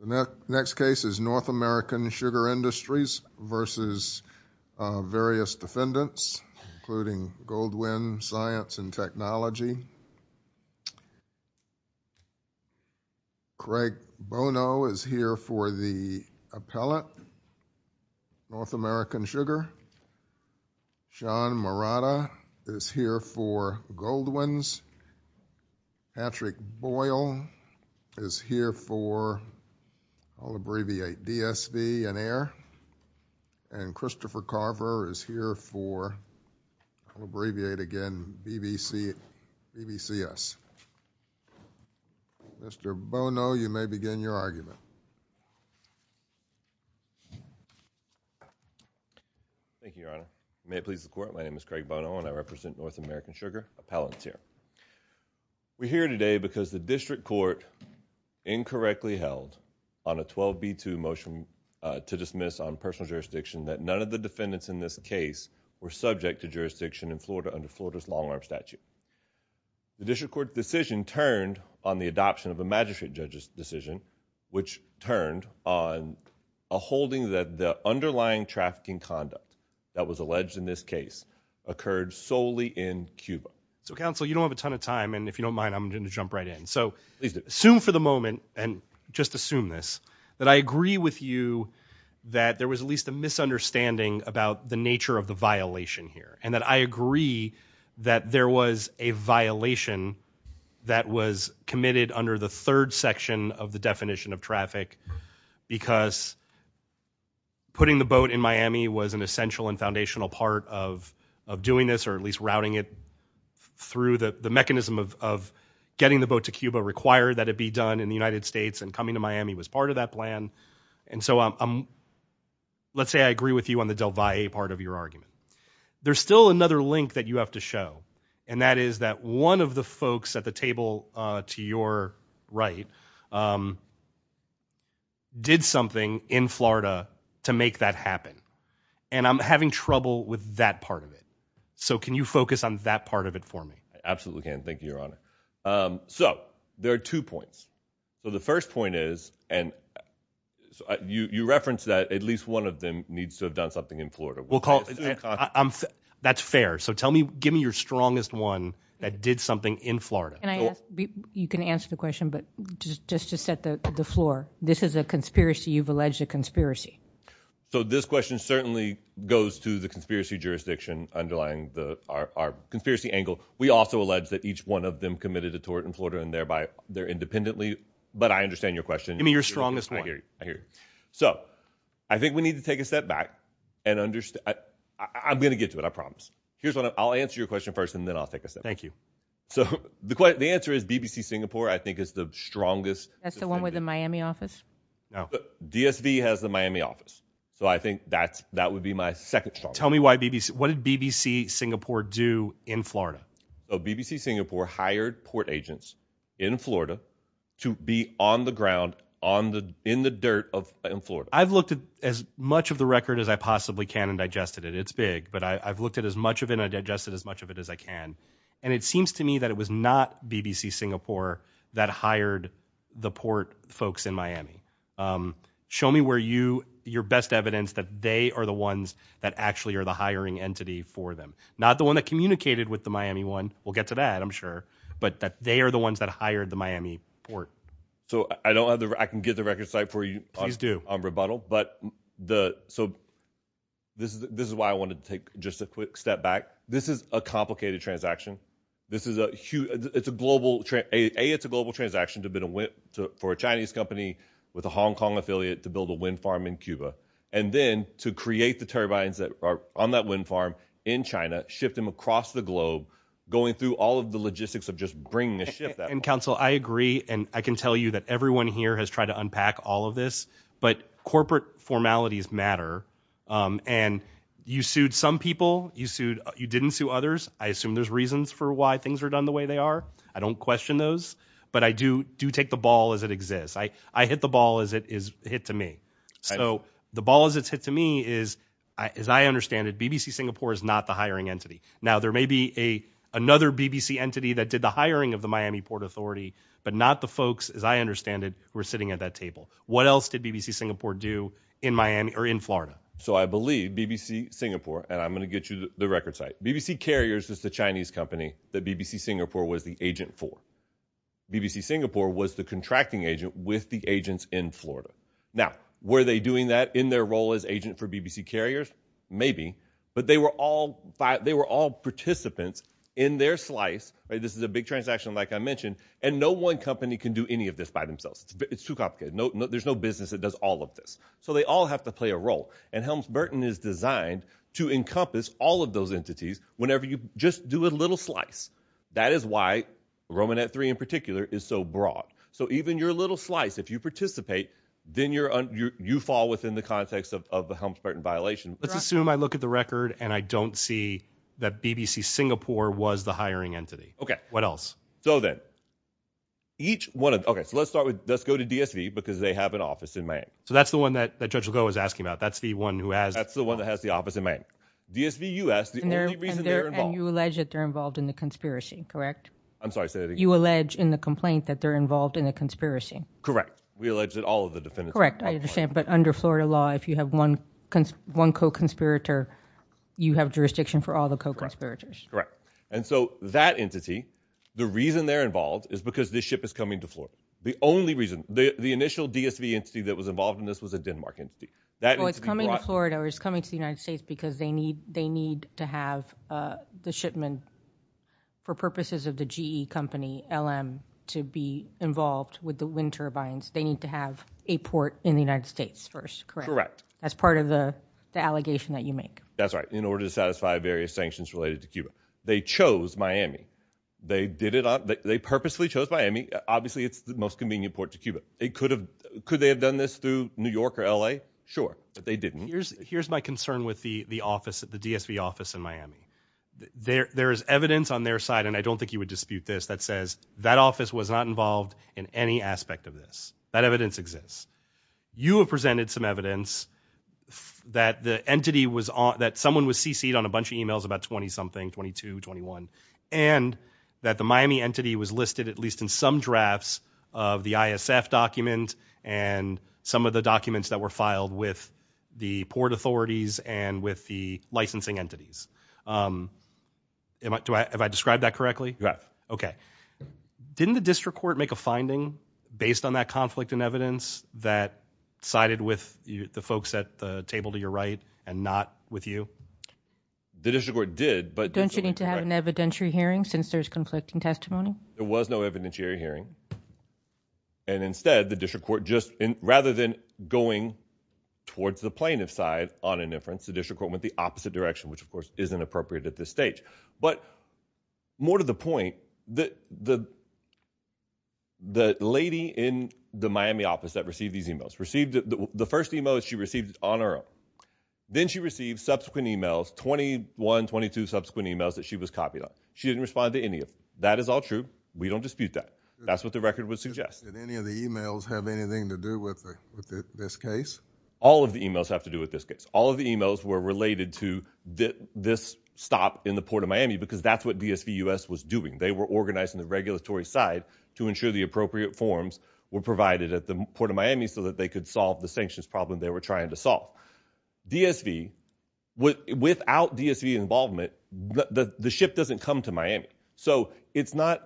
The next case is North American Sugar Industries v. various defendants, including Goldwind Science & Technology. Craig Bono is here for the appellate, North American Sugar. Sean Morata is here for Goldwinds. Patrick Boyle is here for, I'll abbreviate, DSV and AIR. And Christopher Carver is here for, I'll abbreviate again, BVCS. Mr. Bono, you may begin your argument. Thank you, Your Honor. May it please the Court, my name is Craig Bono and I represent North American Sugar, We're here today because the District Court incorrectly held on a 12B2 motion to dismiss on personal jurisdiction that none of the defendants in this case were subject to jurisdiction in Florida under Florida's long-arm statute. The District Court decision turned on the adoption of a magistrate judge's decision which turned on a holding that the underlying trafficking conduct that was alleged in this case occurred solely in Cuba. So counsel, you don't have a ton of time, and if you don't mind, I'm going to jump right in. So assume for the moment, and just assume this, that I agree with you that there was at least a misunderstanding about the nature of the violation here. And that I agree that there was a violation that was committed under the third section of the definition of traffic because putting the boat in Miami was an essential and foundational part of doing this, or at least routing it through the mechanism of getting the boat to Cuba required that it be done in the United States, and coming to Miami was part of that plan. And so let's say I agree with you on the Del Valle part of your argument. There's still another link that you have to show, and that is that one of the folks at the table to your right did something in Florida to make that happen. And I'm having trouble with that part of it. So can you focus on that part of it for me? I absolutely can. Thank you, Your Honor. So there are two points. So the first point is, and you referenced that at least one of them needs to have done something in Florida. Well, that's fair. So tell me, give me your strongest one that did something in Florida. Can I ask? You can answer the question, but just to set the floor, this is a conspiracy. You've alleged a conspiracy. So this question certainly goes to the conspiracy jurisdiction underlying our conspiracy angle. We also allege that each one of them committed a tort in Florida, and thereby they're independently. But I understand your question. Give me your strongest one. I hear you. I hear you. So I think we need to take a step back and understand. I'm going to get to it. I promise. Here's what I'll answer your question first, and then I'll take a step back. Thank you. So the answer is BBC Singapore, I think, is the strongest. That's the one with the Miami office? No. The DSV has the Miami office. So I think that's, that would be my second. Tell me why BBC. What did BBC Singapore do in Florida? BBC Singapore hired port agents in Florida to be on the ground on the, in the dirt of in Florida. I've looked at as much of the record as I possibly can and digested it. It's big, but I've looked at as much of it and digested as much of it as I can. And it seems to me that it was not BBC Singapore that hired the port folks in Miami. Show me where you, your best evidence that they are the ones that actually are the hiring entity for them. Not the one that communicated with the Miami one. We'll get to that. I'm sure. But that they are the ones that hired the Miami port. So I don't have the, I can get the record site for you on rebuttal. But the, so this is, this is why I wanted to take just a quick step back. This is a complicated transaction. This is a huge, it's a global, a, it's a global transaction to have been a whip to, for a Chinese company with a Hong Kong affiliate to build a wind farm in Cuba. And then to create the turbines that are on that wind farm in China, shift them across the globe, going through all of the logistics of just bringing a ship that. And counsel, I agree. And I can tell you that everyone here has tried to unpack all of this, but corporate formalities matter. And you sued some people. You sued, you didn't sue others. I assume there's reasons for why things are done the way they are. I don't question those, but I do do take the ball as it exists. I, I hit the ball as it is hit to me. So the ball is it's hit to me is I, as I understand it, BBC Singapore is not the hiring entity. Now there may be a, another BBC entity that did the hiring of the Miami port authority, but not the folks. As I understand it, we're sitting at that table. What else did BBC Singapore do in Miami or in Florida? So I believe BBC Singapore, and I'm going to get you the record site. BBC carriers is the Chinese company that BBC Singapore was the agent for. BBC Singapore was the contracting agent with the agents in Florida. Now were they doing that in their role as agent for BBC carriers? Maybe, but they were all five, they were all participants in their slice, right? This is a big transaction, like I mentioned, and no one company can do any of this by themselves. It's too complicated. No, there's no business that does all of this. So they all have to play a role and Helms Burton is designed to encompass all of those entities whenever you just do a little slice. That is why Roman at three in particular is so broad. So even your little slice, if you participate, then you're on your, you fall within the context of, of the Helms Burton violation. Let's assume I look at the record and I don't see that BBC Singapore was the hiring entity. Okay. What else? So then each one of, okay, so let's start with, let's go to DSV because they have an office in Miami. Okay. So that's the one that, that judge will go is asking about. That's the one who has, that's the one that has the office in Miami. DSV U.S. The only reason they're involved. And you allege that they're involved in the conspiracy, correct? I'm sorry, say that again. You allege in the complaint that they're involved in a conspiracy. Correct. We allege that all of the defendants are involved. Correct. I understand. But under Florida law, if you have one, one co-conspirator, you have jurisdiction for all the co-conspirators. Correct. And so that entity, the reason they're involved is because this ship is coming to Florida. The only reason, the initial DSV entity that was involved in this was a Denmark entity. That entity brought- Well, it's coming to Florida or it's coming to the United States because they need, they need to have the shipment for purposes of the GE company, LM, to be involved with the wind turbines. They need to have a port in the United States first, correct? Correct. As part of the, the allegation that you make. That's right. In order to satisfy various sanctions related to Cuba. They chose Miami. They did it on, they purposefully chose Miami. Obviously it's the most convenient port to Cuba. It could have, could they have done this through New York or LA? Sure. But they didn't. Here's, here's my concern with the, the office, the DSV office in Miami. There is evidence on their side, and I don't think you would dispute this, that says that office was not involved in any aspect of this. That evidence exists. You have presented some evidence that the entity was on, that someone was CC'd on a bunch of emails about 20 something, 22, 21, and that the Miami entity was listed at least in some drafts of the ISF document and some of the documents that were filed with the port authorities and with the licensing entities. Am I, do I, have I described that correctly? You have. Okay. Didn't the district court make a finding based on that conflict in evidence that sided with the folks at the table to your right and not with you? The district court did, but- Don't you need to have an evidentiary hearing since there's conflicting testimony? There was no evidentiary hearing, and instead the district court just, rather than going towards the plaintiff's side on an inference, the district court went the opposite direction, which of course isn't appropriate at this stage. But more to the point, the, the, the lady in the Miami office that received these emails received the, the first email she received on her own. Then she received subsequent emails, 21, 22 subsequent emails that she was copied on. She didn't respond to any of them. That is all true. We don't dispute that. That's what the record would suggest. Did any of the emails have anything to do with the, with this case? All of the emails have to do with this case. All of the emails were related to this stop in the port of Miami because that's what DSVUS was doing. They were organizing the regulatory side to ensure the appropriate forms were provided at the port of Miami so that they could solve the sanctions problem they were trying to solve. DSV, without DSV involvement, the ship doesn't come to Miami. So it's not,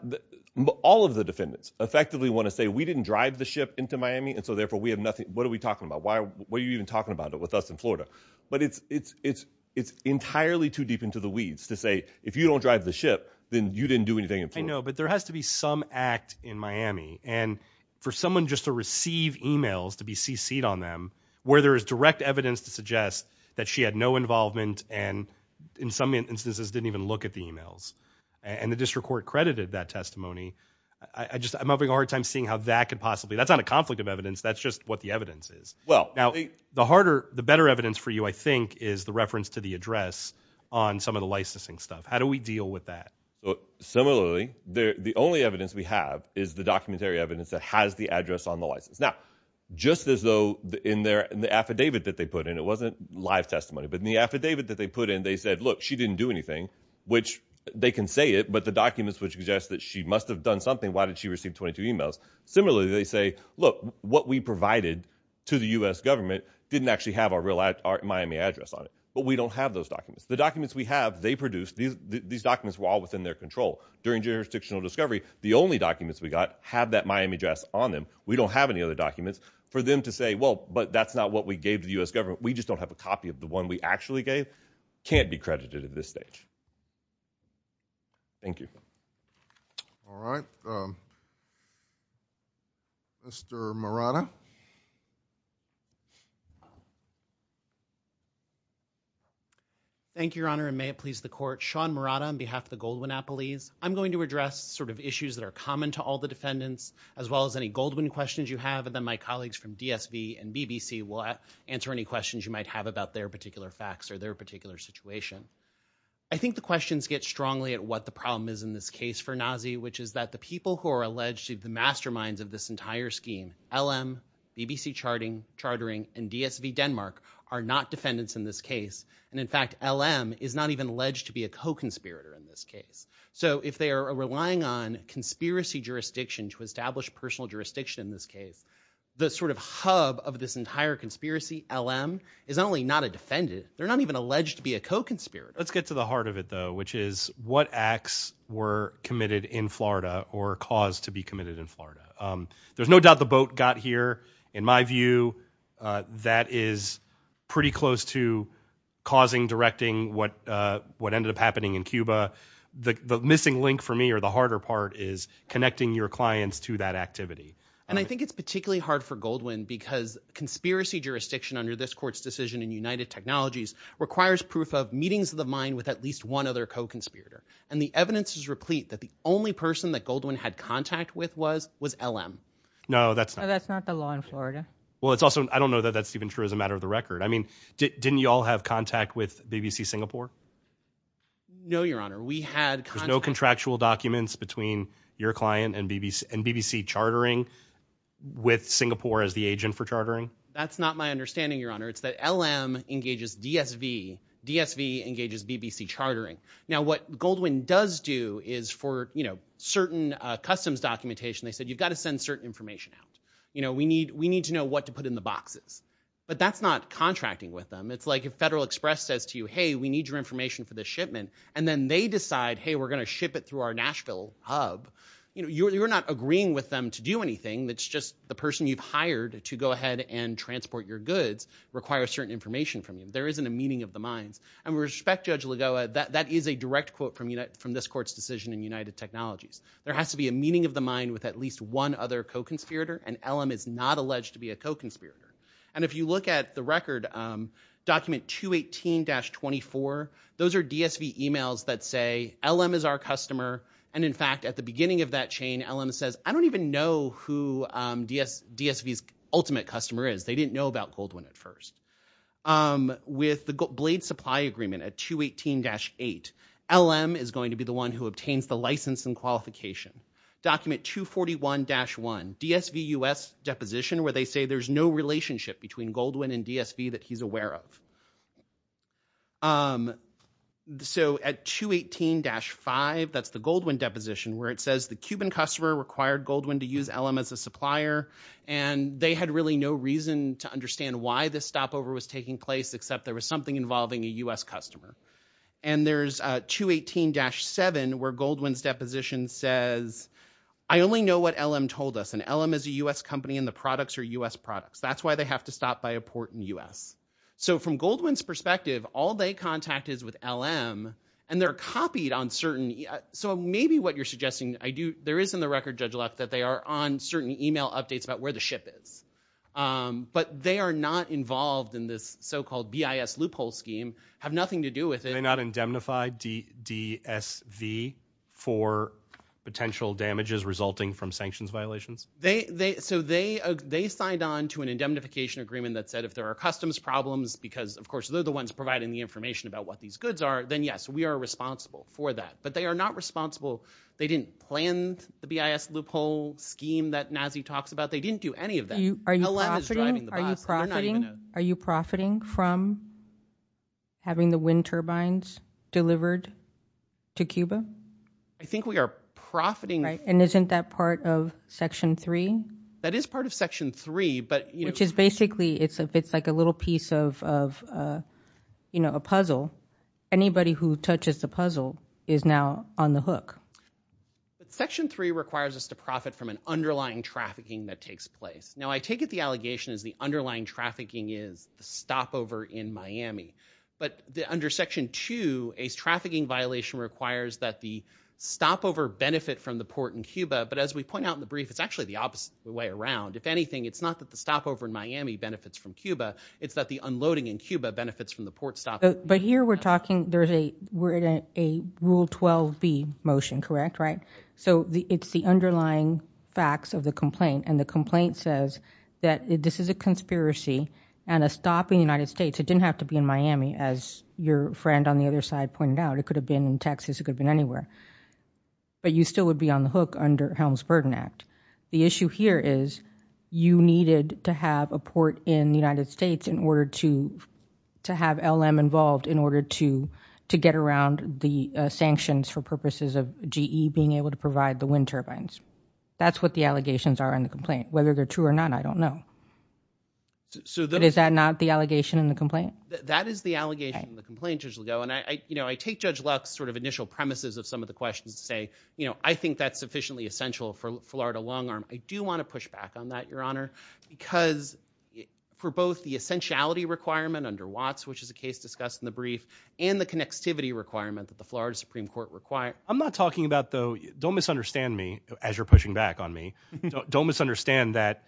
all of the defendants effectively want to say, we didn't drive the ship into Miami and so therefore we have nothing. What are we talking about? Why, what are you even talking about it with us in Florida? But it's, it's, it's, it's entirely too deep into the weeds to say, if you don't drive the ship, then you didn't do anything. I know, but there has to be some act in Miami and for someone just to receive emails to be CC'd on them where there is direct evidence to suggest that she had no involvement and in some instances didn't even look at the emails and the district court credited that testimony. I just, I'm having a hard time seeing how that could possibly, that's not a conflict of evidence. That's just what the evidence is. Well, now the harder, the better evidence for you, I think is the reference to the address on some of the licensing stuff. How do we deal with that? Similarly, the only evidence we have is the documentary evidence that has the address on the license. Now, just as though in their, in the affidavit that they put in, it wasn't live testimony, but in the affidavit that they put in, they said, look, she didn't do anything, which they can say it, but the documents would suggest that she must've done something. Why did she receive 22 emails? Similarly, they say, look, what we provided to the US government didn't actually have our real Miami address on it, but we don't have those documents. The documents we have, they produced these, these documents were all within their control during jurisdictional discovery. The only documents we got have that Miami address on them. We don't have any other documents for them to say, well, but that's not what we gave to the US government. We just don't have a copy of the one we actually gave. Can't be credited at this stage. Thank you. All right. Mr. Murata. Thank you, Your Honor, and may it please the court. Sean Murata on behalf of the Goldwyn-Appellees. I'm going to address sort of issues that are common to all the defendants, as well as any Goldwyn questions you have, and then my colleagues from DSV and BBC will answer any questions you might have about their particular facts or their particular situation. I think the questions get strongly at what the problem is in this case for NAZI, which is that the people who are alleged to be the masterminds of this entire scheme, LM, BBC charting, chartering, and DSV Denmark, are not defendants in this case, and in fact LM is not even alleged to be a co-conspirator in this case. So if they are relying on conspiracy jurisdiction to establish personal jurisdiction in this is not only not a defendant, they're not even alleged to be a co-conspirator. Let's get to the heart of it, though, which is what acts were committed in Florida or caused to be committed in Florida. There's no doubt the boat got here. In my view, that is pretty close to causing, directing what ended up happening in Cuba. The missing link for me, or the harder part, is connecting your clients to that activity. And I think it's particularly hard for Goldwyn because conspiracy jurisdiction under this court's decision in United Technologies requires proof of meetings of the mind with at least one other co-conspirator. And the evidence is replete that the only person that Goldwyn had contact with was, was LM. No, that's not. That's not the law in Florida. Well, it's also, I don't know that that's even true as a matter of the record. I mean, didn't you all have contact with BBC Singapore? No, Your Honor. We had contact. There's no contractual documents between your client and BBC, and BBC chartering with Singapore as the agent for chartering? That's not my understanding, Your Honor. It's that LM engages DSV, DSV engages BBC chartering. Now what Goldwyn does do is for, you know, certain customs documentation, they said you've got to send certain information out. You know, we need, we need to know what to put in the boxes. But that's not contracting with them. It's like if Federal Express says to you, hey, we need your information for this shipment, and then they decide, hey, we're going to ship it through our Nashville hub, you know, you're not agreeing with them to do anything. It's just the person you've hired to go ahead and transport your goods requires certain information from you. There isn't a meeting of the minds. And with respect, Judge Lagoa, that is a direct quote from this court's decision in United Technologies. There has to be a meeting of the mind with at least one other co-conspirator, and LM is not alleged to be a co-conspirator. And if you look at the record, document 218-24, those are DSV emails that say LM is our customer, and in fact, at the beginning of that chain, LM says, I don't even know who DSV's ultimate customer is. They didn't know about Goldwyn at first. With the Blade Supply Agreement at 218-8, LM is going to be the one who obtains the license and qualification. Document 241-1, DSV U.S. deposition where they say there's no relationship between Goldwyn and DSV that he's aware of. So at 218-5, that's the Goldwyn deposition where it says the Cuban customer required Goldwyn to use LM as a supplier, and they had really no reason to understand why this stopover was taking place except there was something involving a U.S. customer. And there's 218-7 where Goldwyn's deposition says, I only know what LM told us, and LM is a U.S. company and the products are U.S. products. That's why they have to stop by a port in the U.S. So from Goldwyn's perspective, all they contact is with LM, and they're copied on certain – so maybe what you're suggesting, there is in the record, Judge Luck, that they are on certain email updates about where the ship is. But they are not involved in this so-called BIS loophole scheme, have nothing to do with it. They're not indemnified, DSV, for potential damages resulting from sanctions violations? They – so they signed on to an indemnification agreement that said if there are customs problems, because of course they're the ones providing the information about what these goods are, then yes, we are responsible for that. But they are not responsible – they didn't plan the BIS loophole scheme that Nazi talks about. They didn't do any of that. LM is driving the process. They're not even a – Are you profiting from having the wind turbines delivered to Cuba? I think we are profiting – And isn't that part of Section 3? That is part of Section 3, but – Which is basically – it's like a little piece of a puzzle. Anybody who touches the puzzle is now on the hook. Section 3 requires us to profit from an underlying trafficking that takes place. Now I take it the allegation is the underlying trafficking is the stopover in Miami. But under Section 2, a trafficking violation requires that the stopover benefit from the port in Cuba. But as we point out in the brief, it's actually the opposite of the way around. If anything, it's not that the stopover in Miami benefits from Cuba, it's that the unloading in Cuba benefits from the port stopover. But here we're talking – there's a – we're in a Rule 12b motion, correct, right? So it's the underlying facts of the complaint, and the complaint says that this is a conspiracy and a stop in the United States. It didn't have to be in Miami, as your friend on the other side pointed out. It could have been in Texas. It could have been anywhere. But you still would be on the hook under Helms Burden Act. The issue here is you needed to have a port in the United States in order to – to have LM involved in order to get around the sanctions for purposes of GE being able to provide the wind turbines. That's what the allegations are in the complaint. Whether they're true or not, I don't know. Is that not the allegation in the complaint? That is the allegation in the complaint, Judge Lago. And I take Judge Luck's sort of initial premises of some of the questions to say, I think that's sufficiently essential for Florida long arm. I do want to push back on that, Your Honor, because for both the essentiality requirement under Watts, which is a case discussed in the brief, and the connectivity requirement that the Florida Supreme Court required – I'm not talking about, though – don't misunderstand me as you're pushing back on me. Don't misunderstand that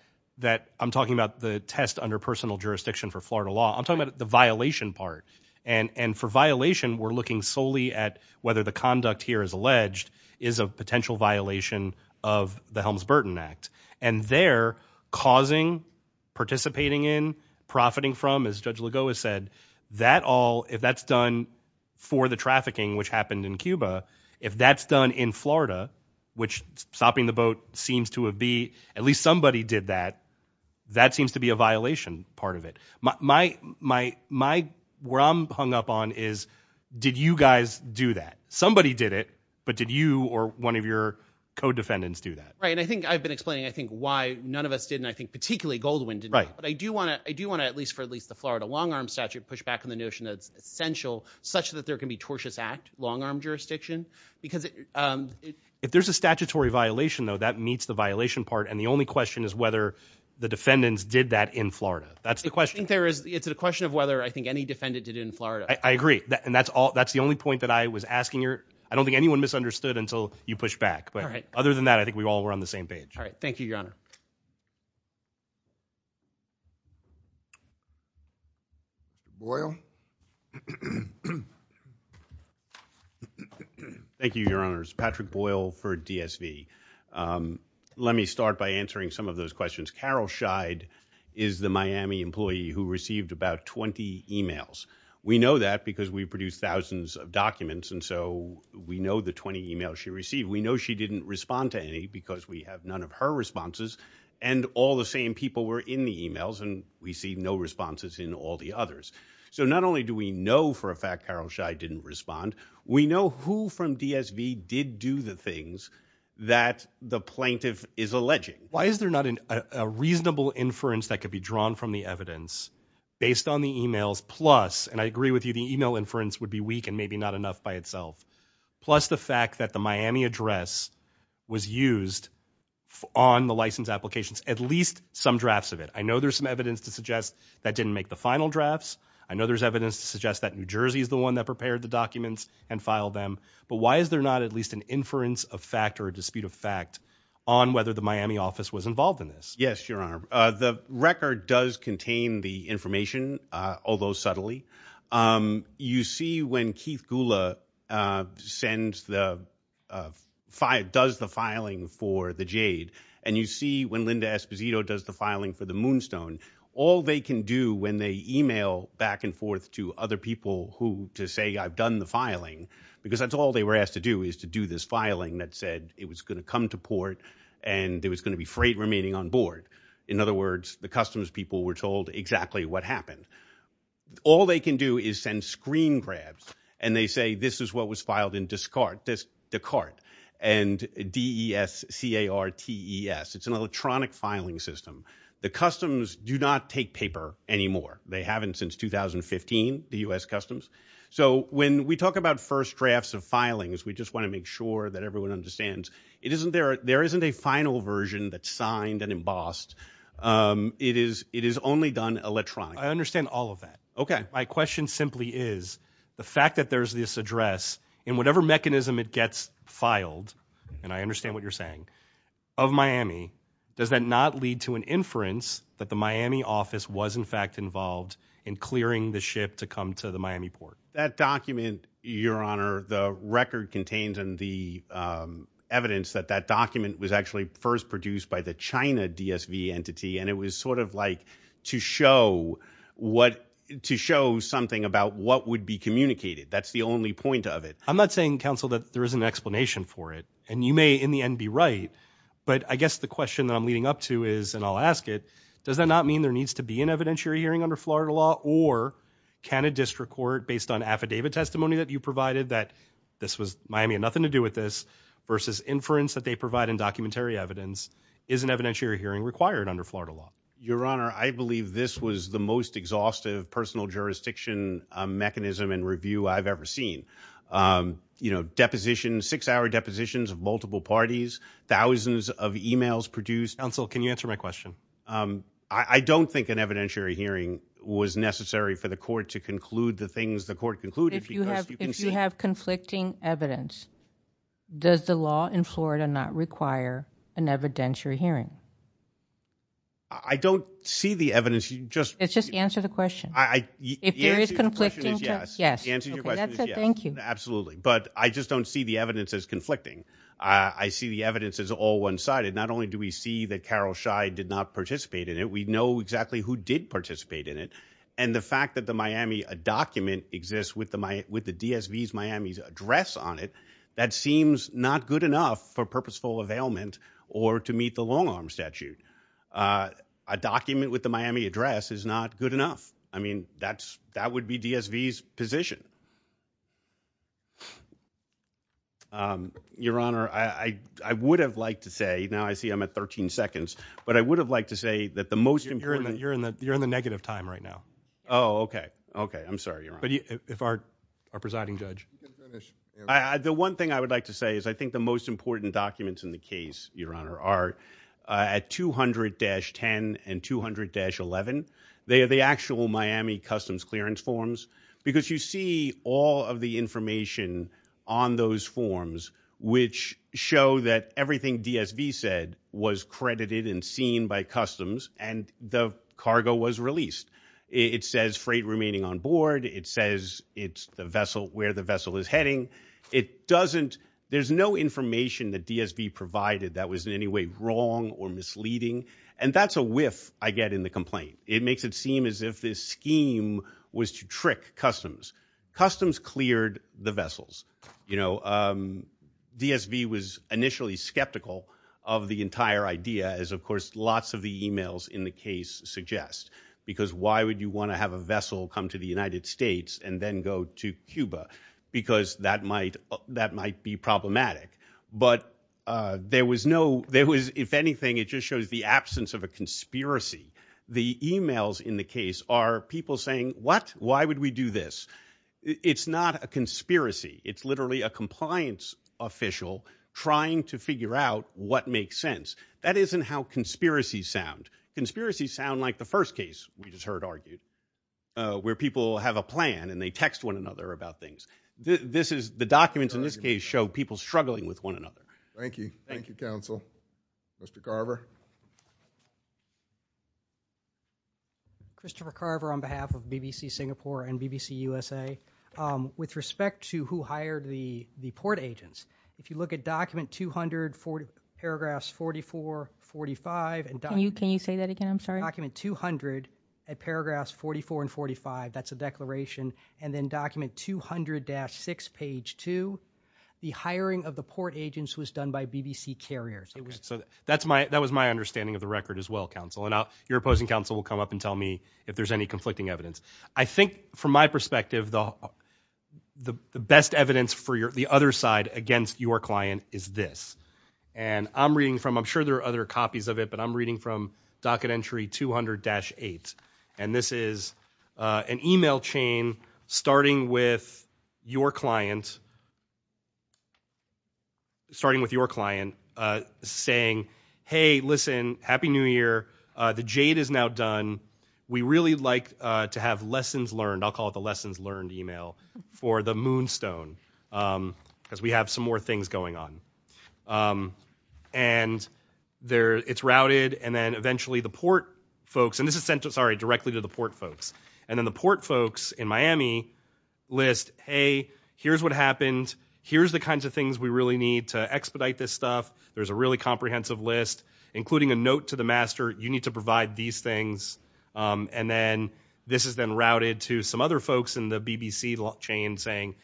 I'm talking about the test under personal jurisdiction for Florida law. I'm talking about the violation part. And for violation, we're looking solely at whether the conduct here is alleged is a potential violation of the Helms-Burton Act. And there, causing, participating in, profiting from, as Judge Lago has said, that all – if that's done for the trafficking, which happened in Cuba, if that's done in Florida, which stopping the boat seems to have been – at least somebody did that, that seems to be a violation part of it. My – where I'm hung up on is, did you guys do that? Somebody did it, but did you or one of your co-defendants do that? Right, and I think I've been explaining, I think, why none of us did, and I think particularly Goldwyn did not. Right. But I do want to, at least for at least the Florida long arm statute, push back on the notion that it's essential, such that there can be tortious act, long arm jurisdiction, because – If there's a statutory violation, though, that meets the violation part, and the only question is whether the defendants did that in Florida. That's the question. I think there is – it's a question of whether I think any defendant did it in Florida. I agree. And that's all – that's the only point that I was asking your – I don't think anyone misunderstood until you pushed back, but other than that, I think we all were on the same page. All right. Thank you, Your Honor. Boyle? Thank you, Your Honors. Patrick Boyle for DSV. Let me start by answering some of those questions. Carol Scheid is the Miami employee who received about 20 emails. We know that because we produce thousands of documents, and so we know the 20 emails she received. We know she didn't respond to any because we have none of her responses, and all the same people were in the emails and received no responses in all the others. So not only do we know for a fact Carol Scheid didn't respond, we know who from DSV did do the things that the plaintiff is alleging. Why is there not a reasonable inference that could be drawn from the evidence based on the emails, plus – and I agree with you, the email inference would be weak and maybe not enough by itself – plus the fact that the Miami address was used on the license applications, at least some drafts of it? I know there's some evidence to suggest that didn't make the final drafts. I know there's evidence to suggest that New Jersey is the one that prepared the documents and filed them. But why is there not at least an inference of fact or a dispute of fact on whether the plaintiff was involved in this? Yes, Your Honor. The record does contain the information, although subtly. You see when Keith Gula sends the – does the filing for the Jade, and you see when Linda Esposito does the filing for the Moonstone, all they can do when they email back and forth to other people who – to say I've done the filing, because that's all they were asked to do is to do this filing that said it was going to come to port and it was going to be freight remaining on board. In other words, the customs people were told exactly what happened. All they can do is send screen grabs, and they say this is what was filed in Descartes and D-E-S-C-A-R-T-E-S. It's an electronic filing system. The customs do not take paper anymore. They haven't since 2015, the U.S. customs. So when we talk about first drafts of filings, we just want to make sure that everyone understands it isn't – there isn't a final version that's signed and embossed. It is – it is only done electronically. I understand all of that. Okay. My question simply is the fact that there's this address in whatever mechanism it gets filed, and I understand what you're saying, of Miami, does that not lead to an inference that the Miami office was in fact involved in clearing the ship to come to the Miami port? That document, your honor, the record contains and the evidence that that document was actually first produced by the China DSV entity, and it was sort of like to show what – to show something about what would be communicated. That's the only point of it. I'm not saying, counsel, that there isn't an explanation for it, and you may in the end be right, but I guess the question that I'm leading up to is, and I'll ask it, does that not mean there needs to be an evidentiary hearing under Florida law, or can a district court, based on affidavit testimony that you provided that this was – Miami had nothing to do with this, versus inference that they provide in documentary evidence, is an evidentiary hearing required under Florida law? Your honor, I believe this was the most exhaustive personal jurisdiction mechanism and review I've ever seen. You know, deposition, six-hour depositions of multiple parties, thousands of emails produced. Counsel, can you answer my question? I don't think an evidentiary hearing was necessary for the court to conclude the things the court concluded. If you have conflicting evidence, does the law in Florida not require an evidentiary hearing? I don't see the evidence, you just – Just answer the question. If there is conflicting – The answer to your question is yes, absolutely. But I just don't see the evidence as conflicting. I see the evidence as all one-sided. Not only do we see that Carol Scheid did not participate in it, we know exactly who did participate in it. And the fact that the Miami – a document exists with the DSV's Miami address on it, that seems not good enough for purposeful availment or to meet the long-arm statute. A document with the Miami address is not good enough. I mean, that would be DSV's position. Your Honor, I would have liked to say – now I see I'm at 13 seconds. But I would have liked to say that the most important – You're in the negative time right now. Oh, okay. Okay. I'm sorry, Your Honor. But if our presiding judge – The one thing I would like to say is I think the most important documents in the case, Your Honor, are at 200-10 and 200-11. They are the actual Miami Customs clearance forms. Because you see all of the information on those forms, which show that everything DSV said was credited and seen by Customs, and the cargo was released. It says freight remaining on board. It says it's the vessel – where the vessel is heading. It doesn't – there's no information that DSV provided that was in any way wrong or misleading. And that's a whiff I get in the complaint. It makes it seem as if this scheme was to trick Customs. Customs cleared the vessels. You know, DSV was initially skeptical of the entire idea, as of course lots of the emails in the case suggest. Because why would you want to have a vessel come to the United States and then go to Cuba? Because that might be problematic. But there was no – there was – if anything, it just shows the absence of a conspiracy. The emails in the case are people saying, what? Why would we do this? It's not a conspiracy. It's literally a compliance official trying to figure out what makes sense. That isn't how conspiracies sound. Conspiracies sound like the first case we just heard argued, where people have a plan and they text one another about things. This is – the documents in this case show people struggling with one another. Thank you. Thank you, counsel. Mr. Carver. Christopher Carver on behalf of BBC Singapore and BBC USA. With respect to who hired the port agents, if you look at document 200, paragraphs 44, 45 – Can you say that again? I'm sorry. If you look at document 200, at paragraphs 44 and 45, that's a declaration, and then document 200-6, page 2, the hiring of the port agents was done by BBC carriers. So that's my – that was my understanding of the record as well, counsel, and now your opposing counsel will come up and tell me if there's any conflicting evidence. I think from my perspective, the best evidence for your – the other side against your client is this. And I'm reading from – I'm sure there are other copies of it, but I'm reading from docket entry 200-8, and this is an email chain starting with your client – starting with your client saying, hey, listen, happy new year. The jade is now done. We really like to have lessons learned – I'll call it the lessons learned email for the moonstone because we have some more things going on. And it's routed, and then eventually the port folks – and this is sent, sorry, directly to the port folks. And then the port folks in Miami list, hey, here's what happened, here's the kinds of things we really need to expedite this stuff, there's a really comprehensive list, including a note to the master, you need to provide these things. And then this is then routed to some other folks in the BBC chain saying,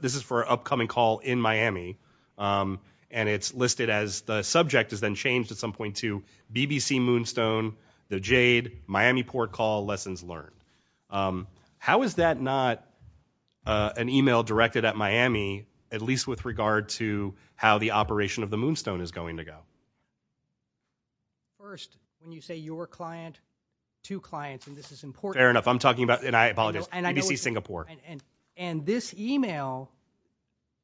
this is for And it's listed as – the subject is then changed at some point to BBC moonstone, the jade, Miami port call, lessons learned. How is that not an email directed at Miami, at least with regard to how the operation of the moonstone is going to go? First, when you say your client, two clients, and this is important – Fair enough. I'm talking about – and I apologize. BBC Singapore. And this email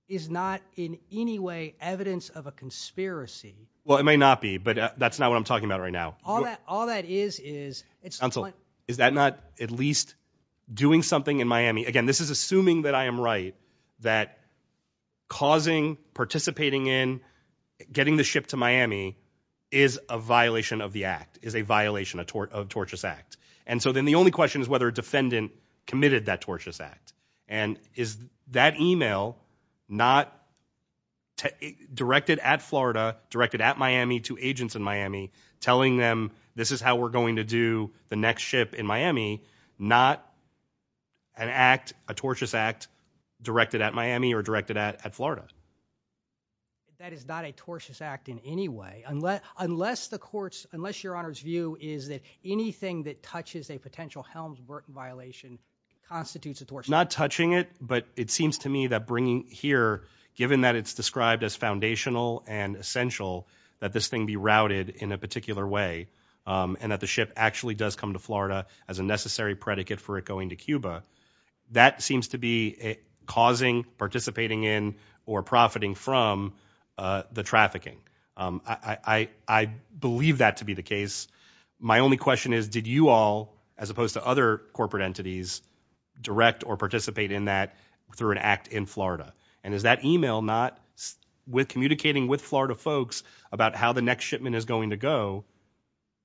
is not in any way evidence of a conspiracy. Well, it may not be, but that's not what I'm talking about right now. All that is is – Counsel, is that not at least doing something in Miami – again, this is assuming that I am right that causing, participating in, getting the ship to Miami is a violation of the act, is a violation of tortious act. And so then the only question is whether a defendant committed that tortious act. And is that email not directed at Florida, directed at Miami to agents in Miami, telling them this is how we're going to do the next ship in Miami, not an act, a tortious act directed at Miami or directed at Florida? That is not a tortious act in any way. Unless the court's – unless your Honor's view is that anything that touches a potential Helms-Burton violation constitutes a tortious act. Not touching it, but it seems to me that bringing here, given that it's described as foundational and essential that this thing be routed in a particular way, and that the ship actually does come to Florida as a necessary predicate for it going to Cuba, that seems to be causing, participating in, or profiting from the trafficking. I believe that to be the case. My only question is, did you all, as opposed to other corporate entities, direct or participate in that through an act in Florida? And is that email not, with communicating with Florida folks about how the next shipment is going to go,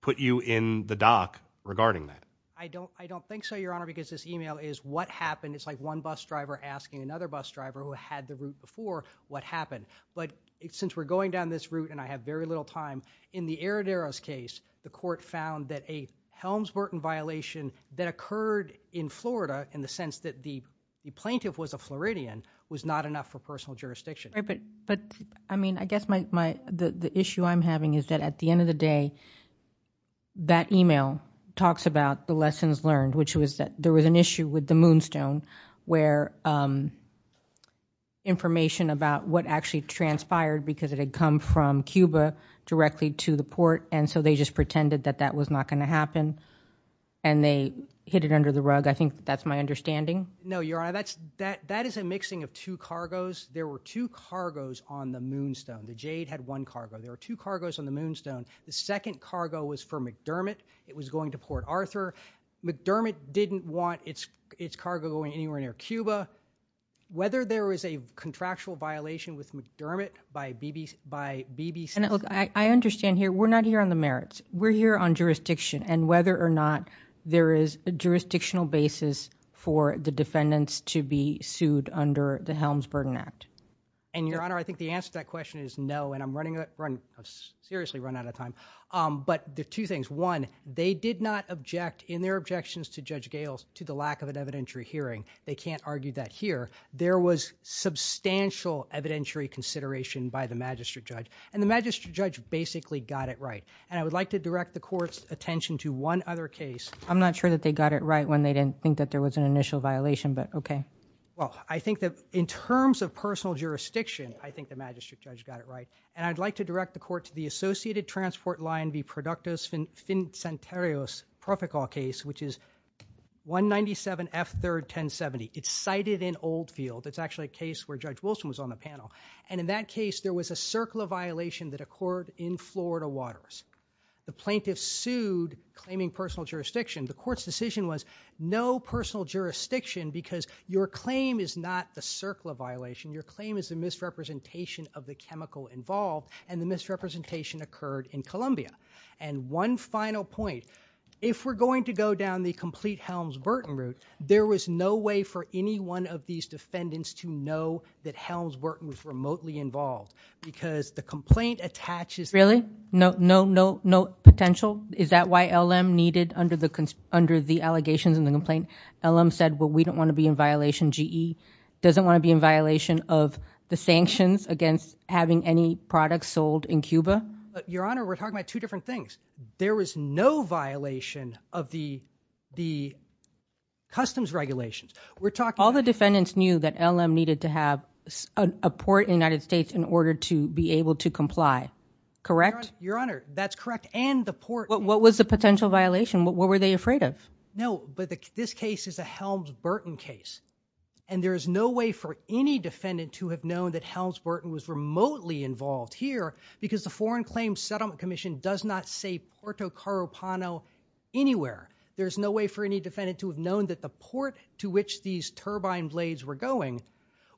put you in the dock regarding that? I don't think so, Your Honor, because this email is what happened, it's like one bus driver asking another bus driver who had the route before what happened. But since we're going down this route, and I have very little time, in the Arraderos case, the court found that a Helms-Burton violation that occurred in Florida, in the sense that the plaintiff was a Floridian, was not enough for personal jurisdiction. Right, but, I mean, I guess my, the issue I'm having is that at the end of the day, that email talks about the lessons learned, which was that there was an issue with the transpired because it had come from Cuba directly to the port, and so they just pretended that that was not going to happen, and they hit it under the rug. I think that's my understanding. No, Your Honor, that's, that is a mixing of two cargos. There were two cargos on the Moonstone, the Jade had one cargo, there were two cargos on the Moonstone. The second cargo was for McDermott, it was going to Port Arthur. McDermott didn't want its cargo going anywhere near Cuba. Whether there was a contractual violation with McDermott by BBC. And look, I understand here, we're not here on the merits, we're here on jurisdiction, and whether or not there is a jurisdictional basis for the defendants to be sued under the Helms-Burton Act. And Your Honor, I think the answer to that question is no, and I'm running, I've seriously run out of time. But there are two things, one, they did not object in their objections to Judge Gales to the lack of an evidentiary hearing. They can't argue that here. There was substantial evidentiary consideration by the Magistrate Judge, and the Magistrate Judge basically got it right, and I would like to direct the Court's attention to one other case. I'm not sure that they got it right when they didn't think that there was an initial violation, but okay. Well, I think that in terms of personal jurisdiction, I think the Magistrate Judge got it right, and I'd like to direct the Court to the Associated Transport Line v. Productus Vincenterios Proficol case, which is 197 F. 3rd, 1070. It's cited in Oldfield. It's actually a case where Judge Wilson was on the panel. And in that case, there was a CERCLA violation that occurred in Florida Waters. The plaintiffs sued, claiming personal jurisdiction. The Court's decision was no personal jurisdiction because your claim is not the CERCLA violation, your claim is the misrepresentation of the chemical involved, and the misrepresentation occurred in Columbia. And one final point. If we're going to go down the complete Helms-Burton route, there was no way for any one of these defendants to know that Helms-Burton was remotely involved, because the complaint attaches Really? No, no, no, no potential? Is that why LM needed, under the allegations in the complaint, LM said, well, we don't want to be in violation, GE doesn't want to be in violation of the sanctions against having any products sold in Cuba? Your Honor, we're talking about two different things. There was no violation of the customs regulations. We're talking about- All the defendants knew that LM needed to have a port in the United States in order to be able to comply, correct? Your Honor, that's correct. And the port- What was the potential violation? What were they afraid of? No, but this case is a Helms-Burton case. And there is no way for any defendant to have known that Helms-Burton was remotely involved here because the Foreign Claims Settlement Commission does not say Puerto Carapano anywhere. There's no way for any defendant to have known that the port to which these turbine blades were going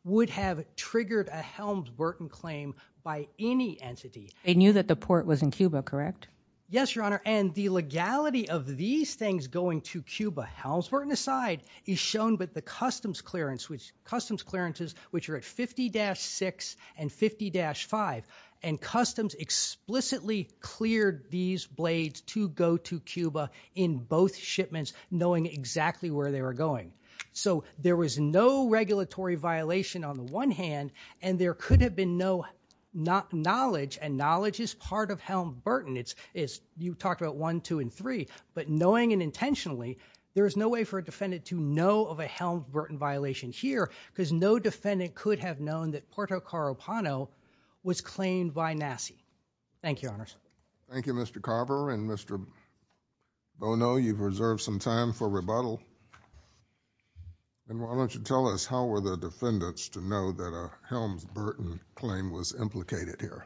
would have triggered a Helms-Burton claim by any entity. They knew that the port was in Cuba, correct? Yes, Your Honor. And the legality of these things going to Cuba, Helms-Burton aside, is shown by the customs clearances, which are at 50-6 and 50-5. And customs explicitly cleared these blades to go to Cuba in both shipments, knowing exactly where they were going. So there was no regulatory violation on the one hand, and there could have been no knowledge, and knowledge is part of Helms-Burton. You talked about one, two, and three. But knowing and intentionally, there is no way for a defendant to know of a Helms-Burton violation here because no defendant could have known that Puerto Carapano was claimed by NASI. Thank you, Your Honors. Thank you, Mr. Carver. And Mr. Bono, you've reserved some time for rebuttal. And why don't you tell us how were the defendants to know that a Helms-Burton claim was implicated here?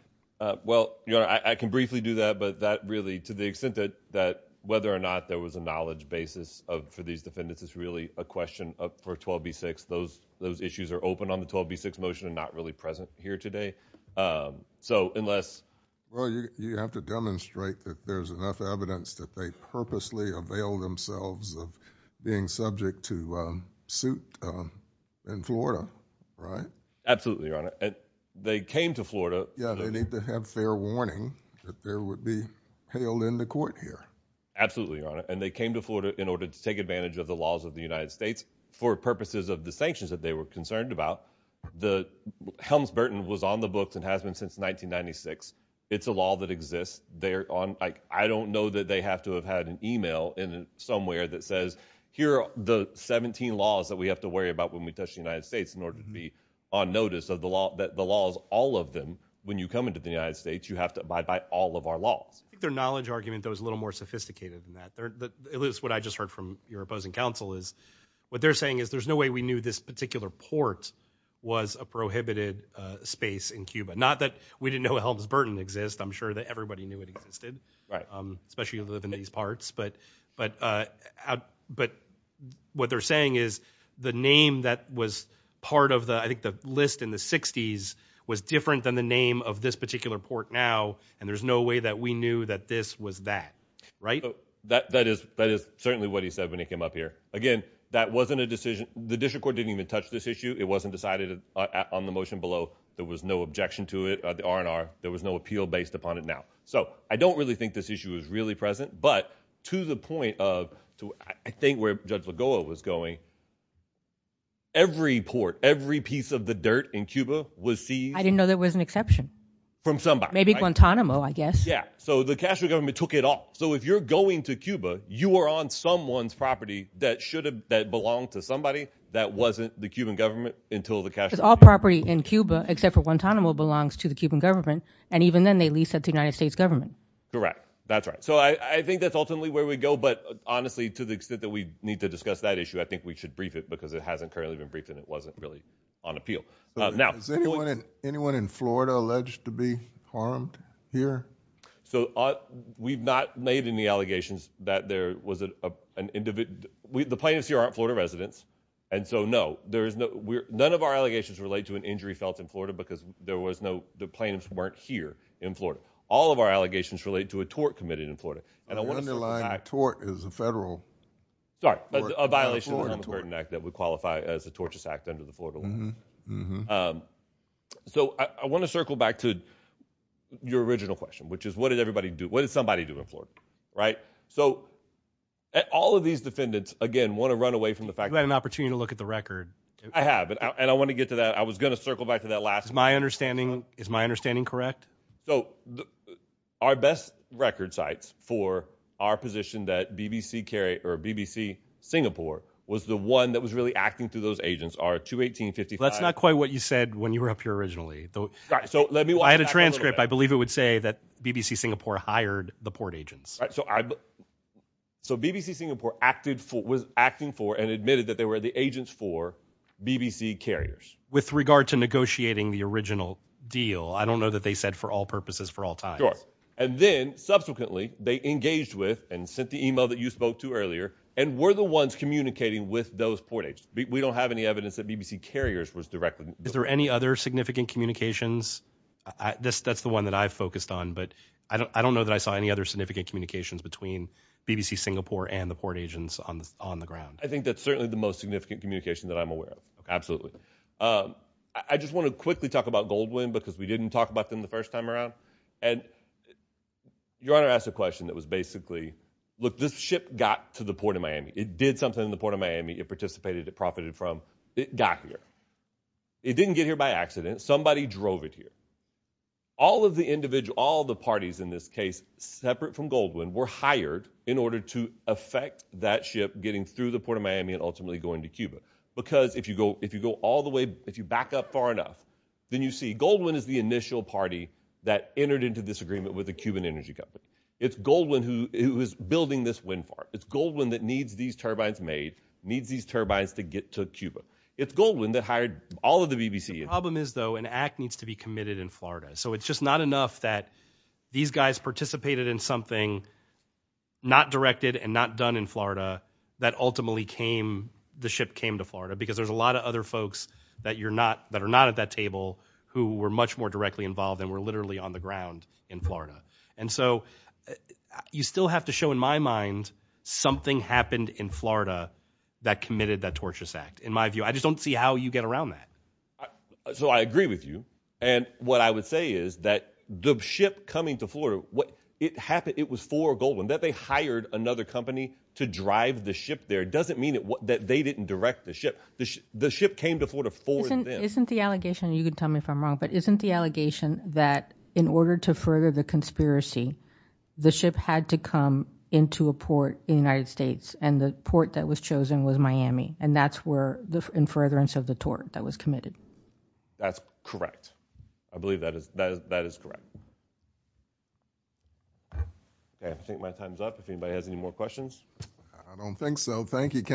Well, Your Honor, I can briefly do that, but that really, to the extent that whether or not there was a knowledge basis for these defendants is really a question for 12b-6. Those issues are open on the 12b-6 motion and not really present here today. So unless— Well, you have to demonstrate that there's enough evidence that they purposely availed themselves of being subject to suit in Florida, right? Absolutely, Your Honor. They came to Florida— Yeah, they need to have fair warning that there would be hell in the court here. Absolutely, Your Honor. And they came to Florida in order to take advantage of the laws of the United States for purposes of the sanctions that they were concerned about. Helms-Burton was on the books and has been since 1996. It's a law that exists. I don't know that they have to have had an email somewhere that says, here are the 17 laws that we have to worry about when we touch the United States in order to be on notice of the laws, all of them, when you come into the United States, you have to abide by all of our laws. I think their knowledge argument, though, is a little more sophisticated than that. At least what I just heard from your opposing counsel is what they're saying is there's no way we knew this particular port was a prohibited space in Cuba. Not that we didn't know Helms-Burton exists. I'm sure that everybody knew it existed, especially in the Venetian parts. But what they're saying is the name that was part of the list in the 60s was different than the name of this particular port now, and there's no way that we knew that this was that. Right? That is certainly what he said when he came up here. Again, that wasn't a decision. The district court didn't even touch this issue. It wasn't decided on the motion below. There was no objection to it, the R&R. There was no appeal based upon it now. So I don't really think this issue is really present, but to the point of I think where Judge Lagoa was going, every port, every piece of the dirt in Cuba was seized. I didn't know there was an exception. From somebody. Maybe Guantanamo, I guess. Yeah. So the Castro government took it off. So if you're going to Cuba, you are on someone's property that belonged to somebody that wasn't the Cuban government until the Castro government. Because all property in Cuba, except for Guantanamo, belongs to the Cuban government, and even then they lease it to the United States government. Correct. That's right. So I think that's ultimately where we go. But honestly, to the extent that we need to discuss that issue, I think we should brief it because it hasn't currently been briefed, and it wasn't really on appeal. Now- Is anyone in Florida alleged to be harmed here? So we've not made any allegations that there was an individual. The plaintiffs here aren't Florida residents. And so, no. None of our allegations relate to an injury felt in Florida because the plaintiffs weren't here in Florida. All of our allegations relate to a tort committed in Florida. And I want to circle back- The underlying tort is a federal- Sorry. A violation of the Humboldt-Curtin Act that would qualify as a tortious act under the Florida law. So I want to circle back to your original question, which is, what did everybody do? What did somebody do in Florida, right? So all of these defendants, again, want to run away from the fact- You had an opportunity to look at the record. I have. And I want to get to that. I was going to circle back to that last- Is my understanding correct? So our best record sites for our position that BBC Singapore was the one that was really acting through those agents are 218 and 55- That's not quite what you said when you were up here originally. So let me- I had a transcript. I believe it would say that BBC Singapore hired the port agents. So BBC Singapore was acting for and admitted that they were the agents for BBC carriers. With regard to negotiating the original deal, I don't know that they said for all purposes, for all times. Sure. And then, subsequently, they engaged with and sent the email that you spoke to earlier and were the ones communicating with those port agents. We don't have any evidence that BBC carriers was directly involved. Is there any other significant communications? That's the one that I've focused on, but I don't know that I saw any other significant communications between BBC Singapore and the port agents on the ground. I think that's certainly the most significant communication that I'm aware of. Absolutely. I just want to quickly talk about Goldwyn because we didn't talk about them the first time around. Your Honor asked a question that was basically, look, this ship got to the port of Miami. It did something in the port of Miami. It participated. It profited from. It got here. It didn't get here by accident. Somebody drove it here. All of the parties in this case, separate from Goldwyn, were hired in order to affect that ship getting through the port of Miami and ultimately going to Cuba. Because if you go all the way, if you back up far enough, then you see Goldwyn is the initial party that entered into this agreement with the Cuban energy company. It's Goldwyn who is building this wind farm. It's Goldwyn that needs these turbines made, needs these turbines to get to Cuba. It's Goldwyn that hired all of the BBC. The problem is, though, an act needs to be committed in Florida. So it's just not enough that these guys participated in something not directed and not done in Florida. Because there's a lot of other folks that are not at that table who were much more directly involved and were literally on the ground in Florida. And so you still have to show, in my mind, something happened in Florida that committed that torturous act. In my view, I just don't see how you get around that. So I agree with you. And what I would say is that the ship coming to Florida, what it happened, it was for Goldwyn that they hired another company to drive the ship there. It doesn't mean that they didn't direct the ship. The ship came to Florida for them. Isn't the allegation, you can tell me if I'm wrong, but isn't the allegation that in order to further the conspiracy, the ship had to come into a port in the United States, and the port that was chosen was Miami? And that's where the in furtherance of the tort that was committed? That's correct. I believe that is correct. Okay. I think my time's up. If anybody has any more questions? I don't think so. Thank you. Thank you, counsel.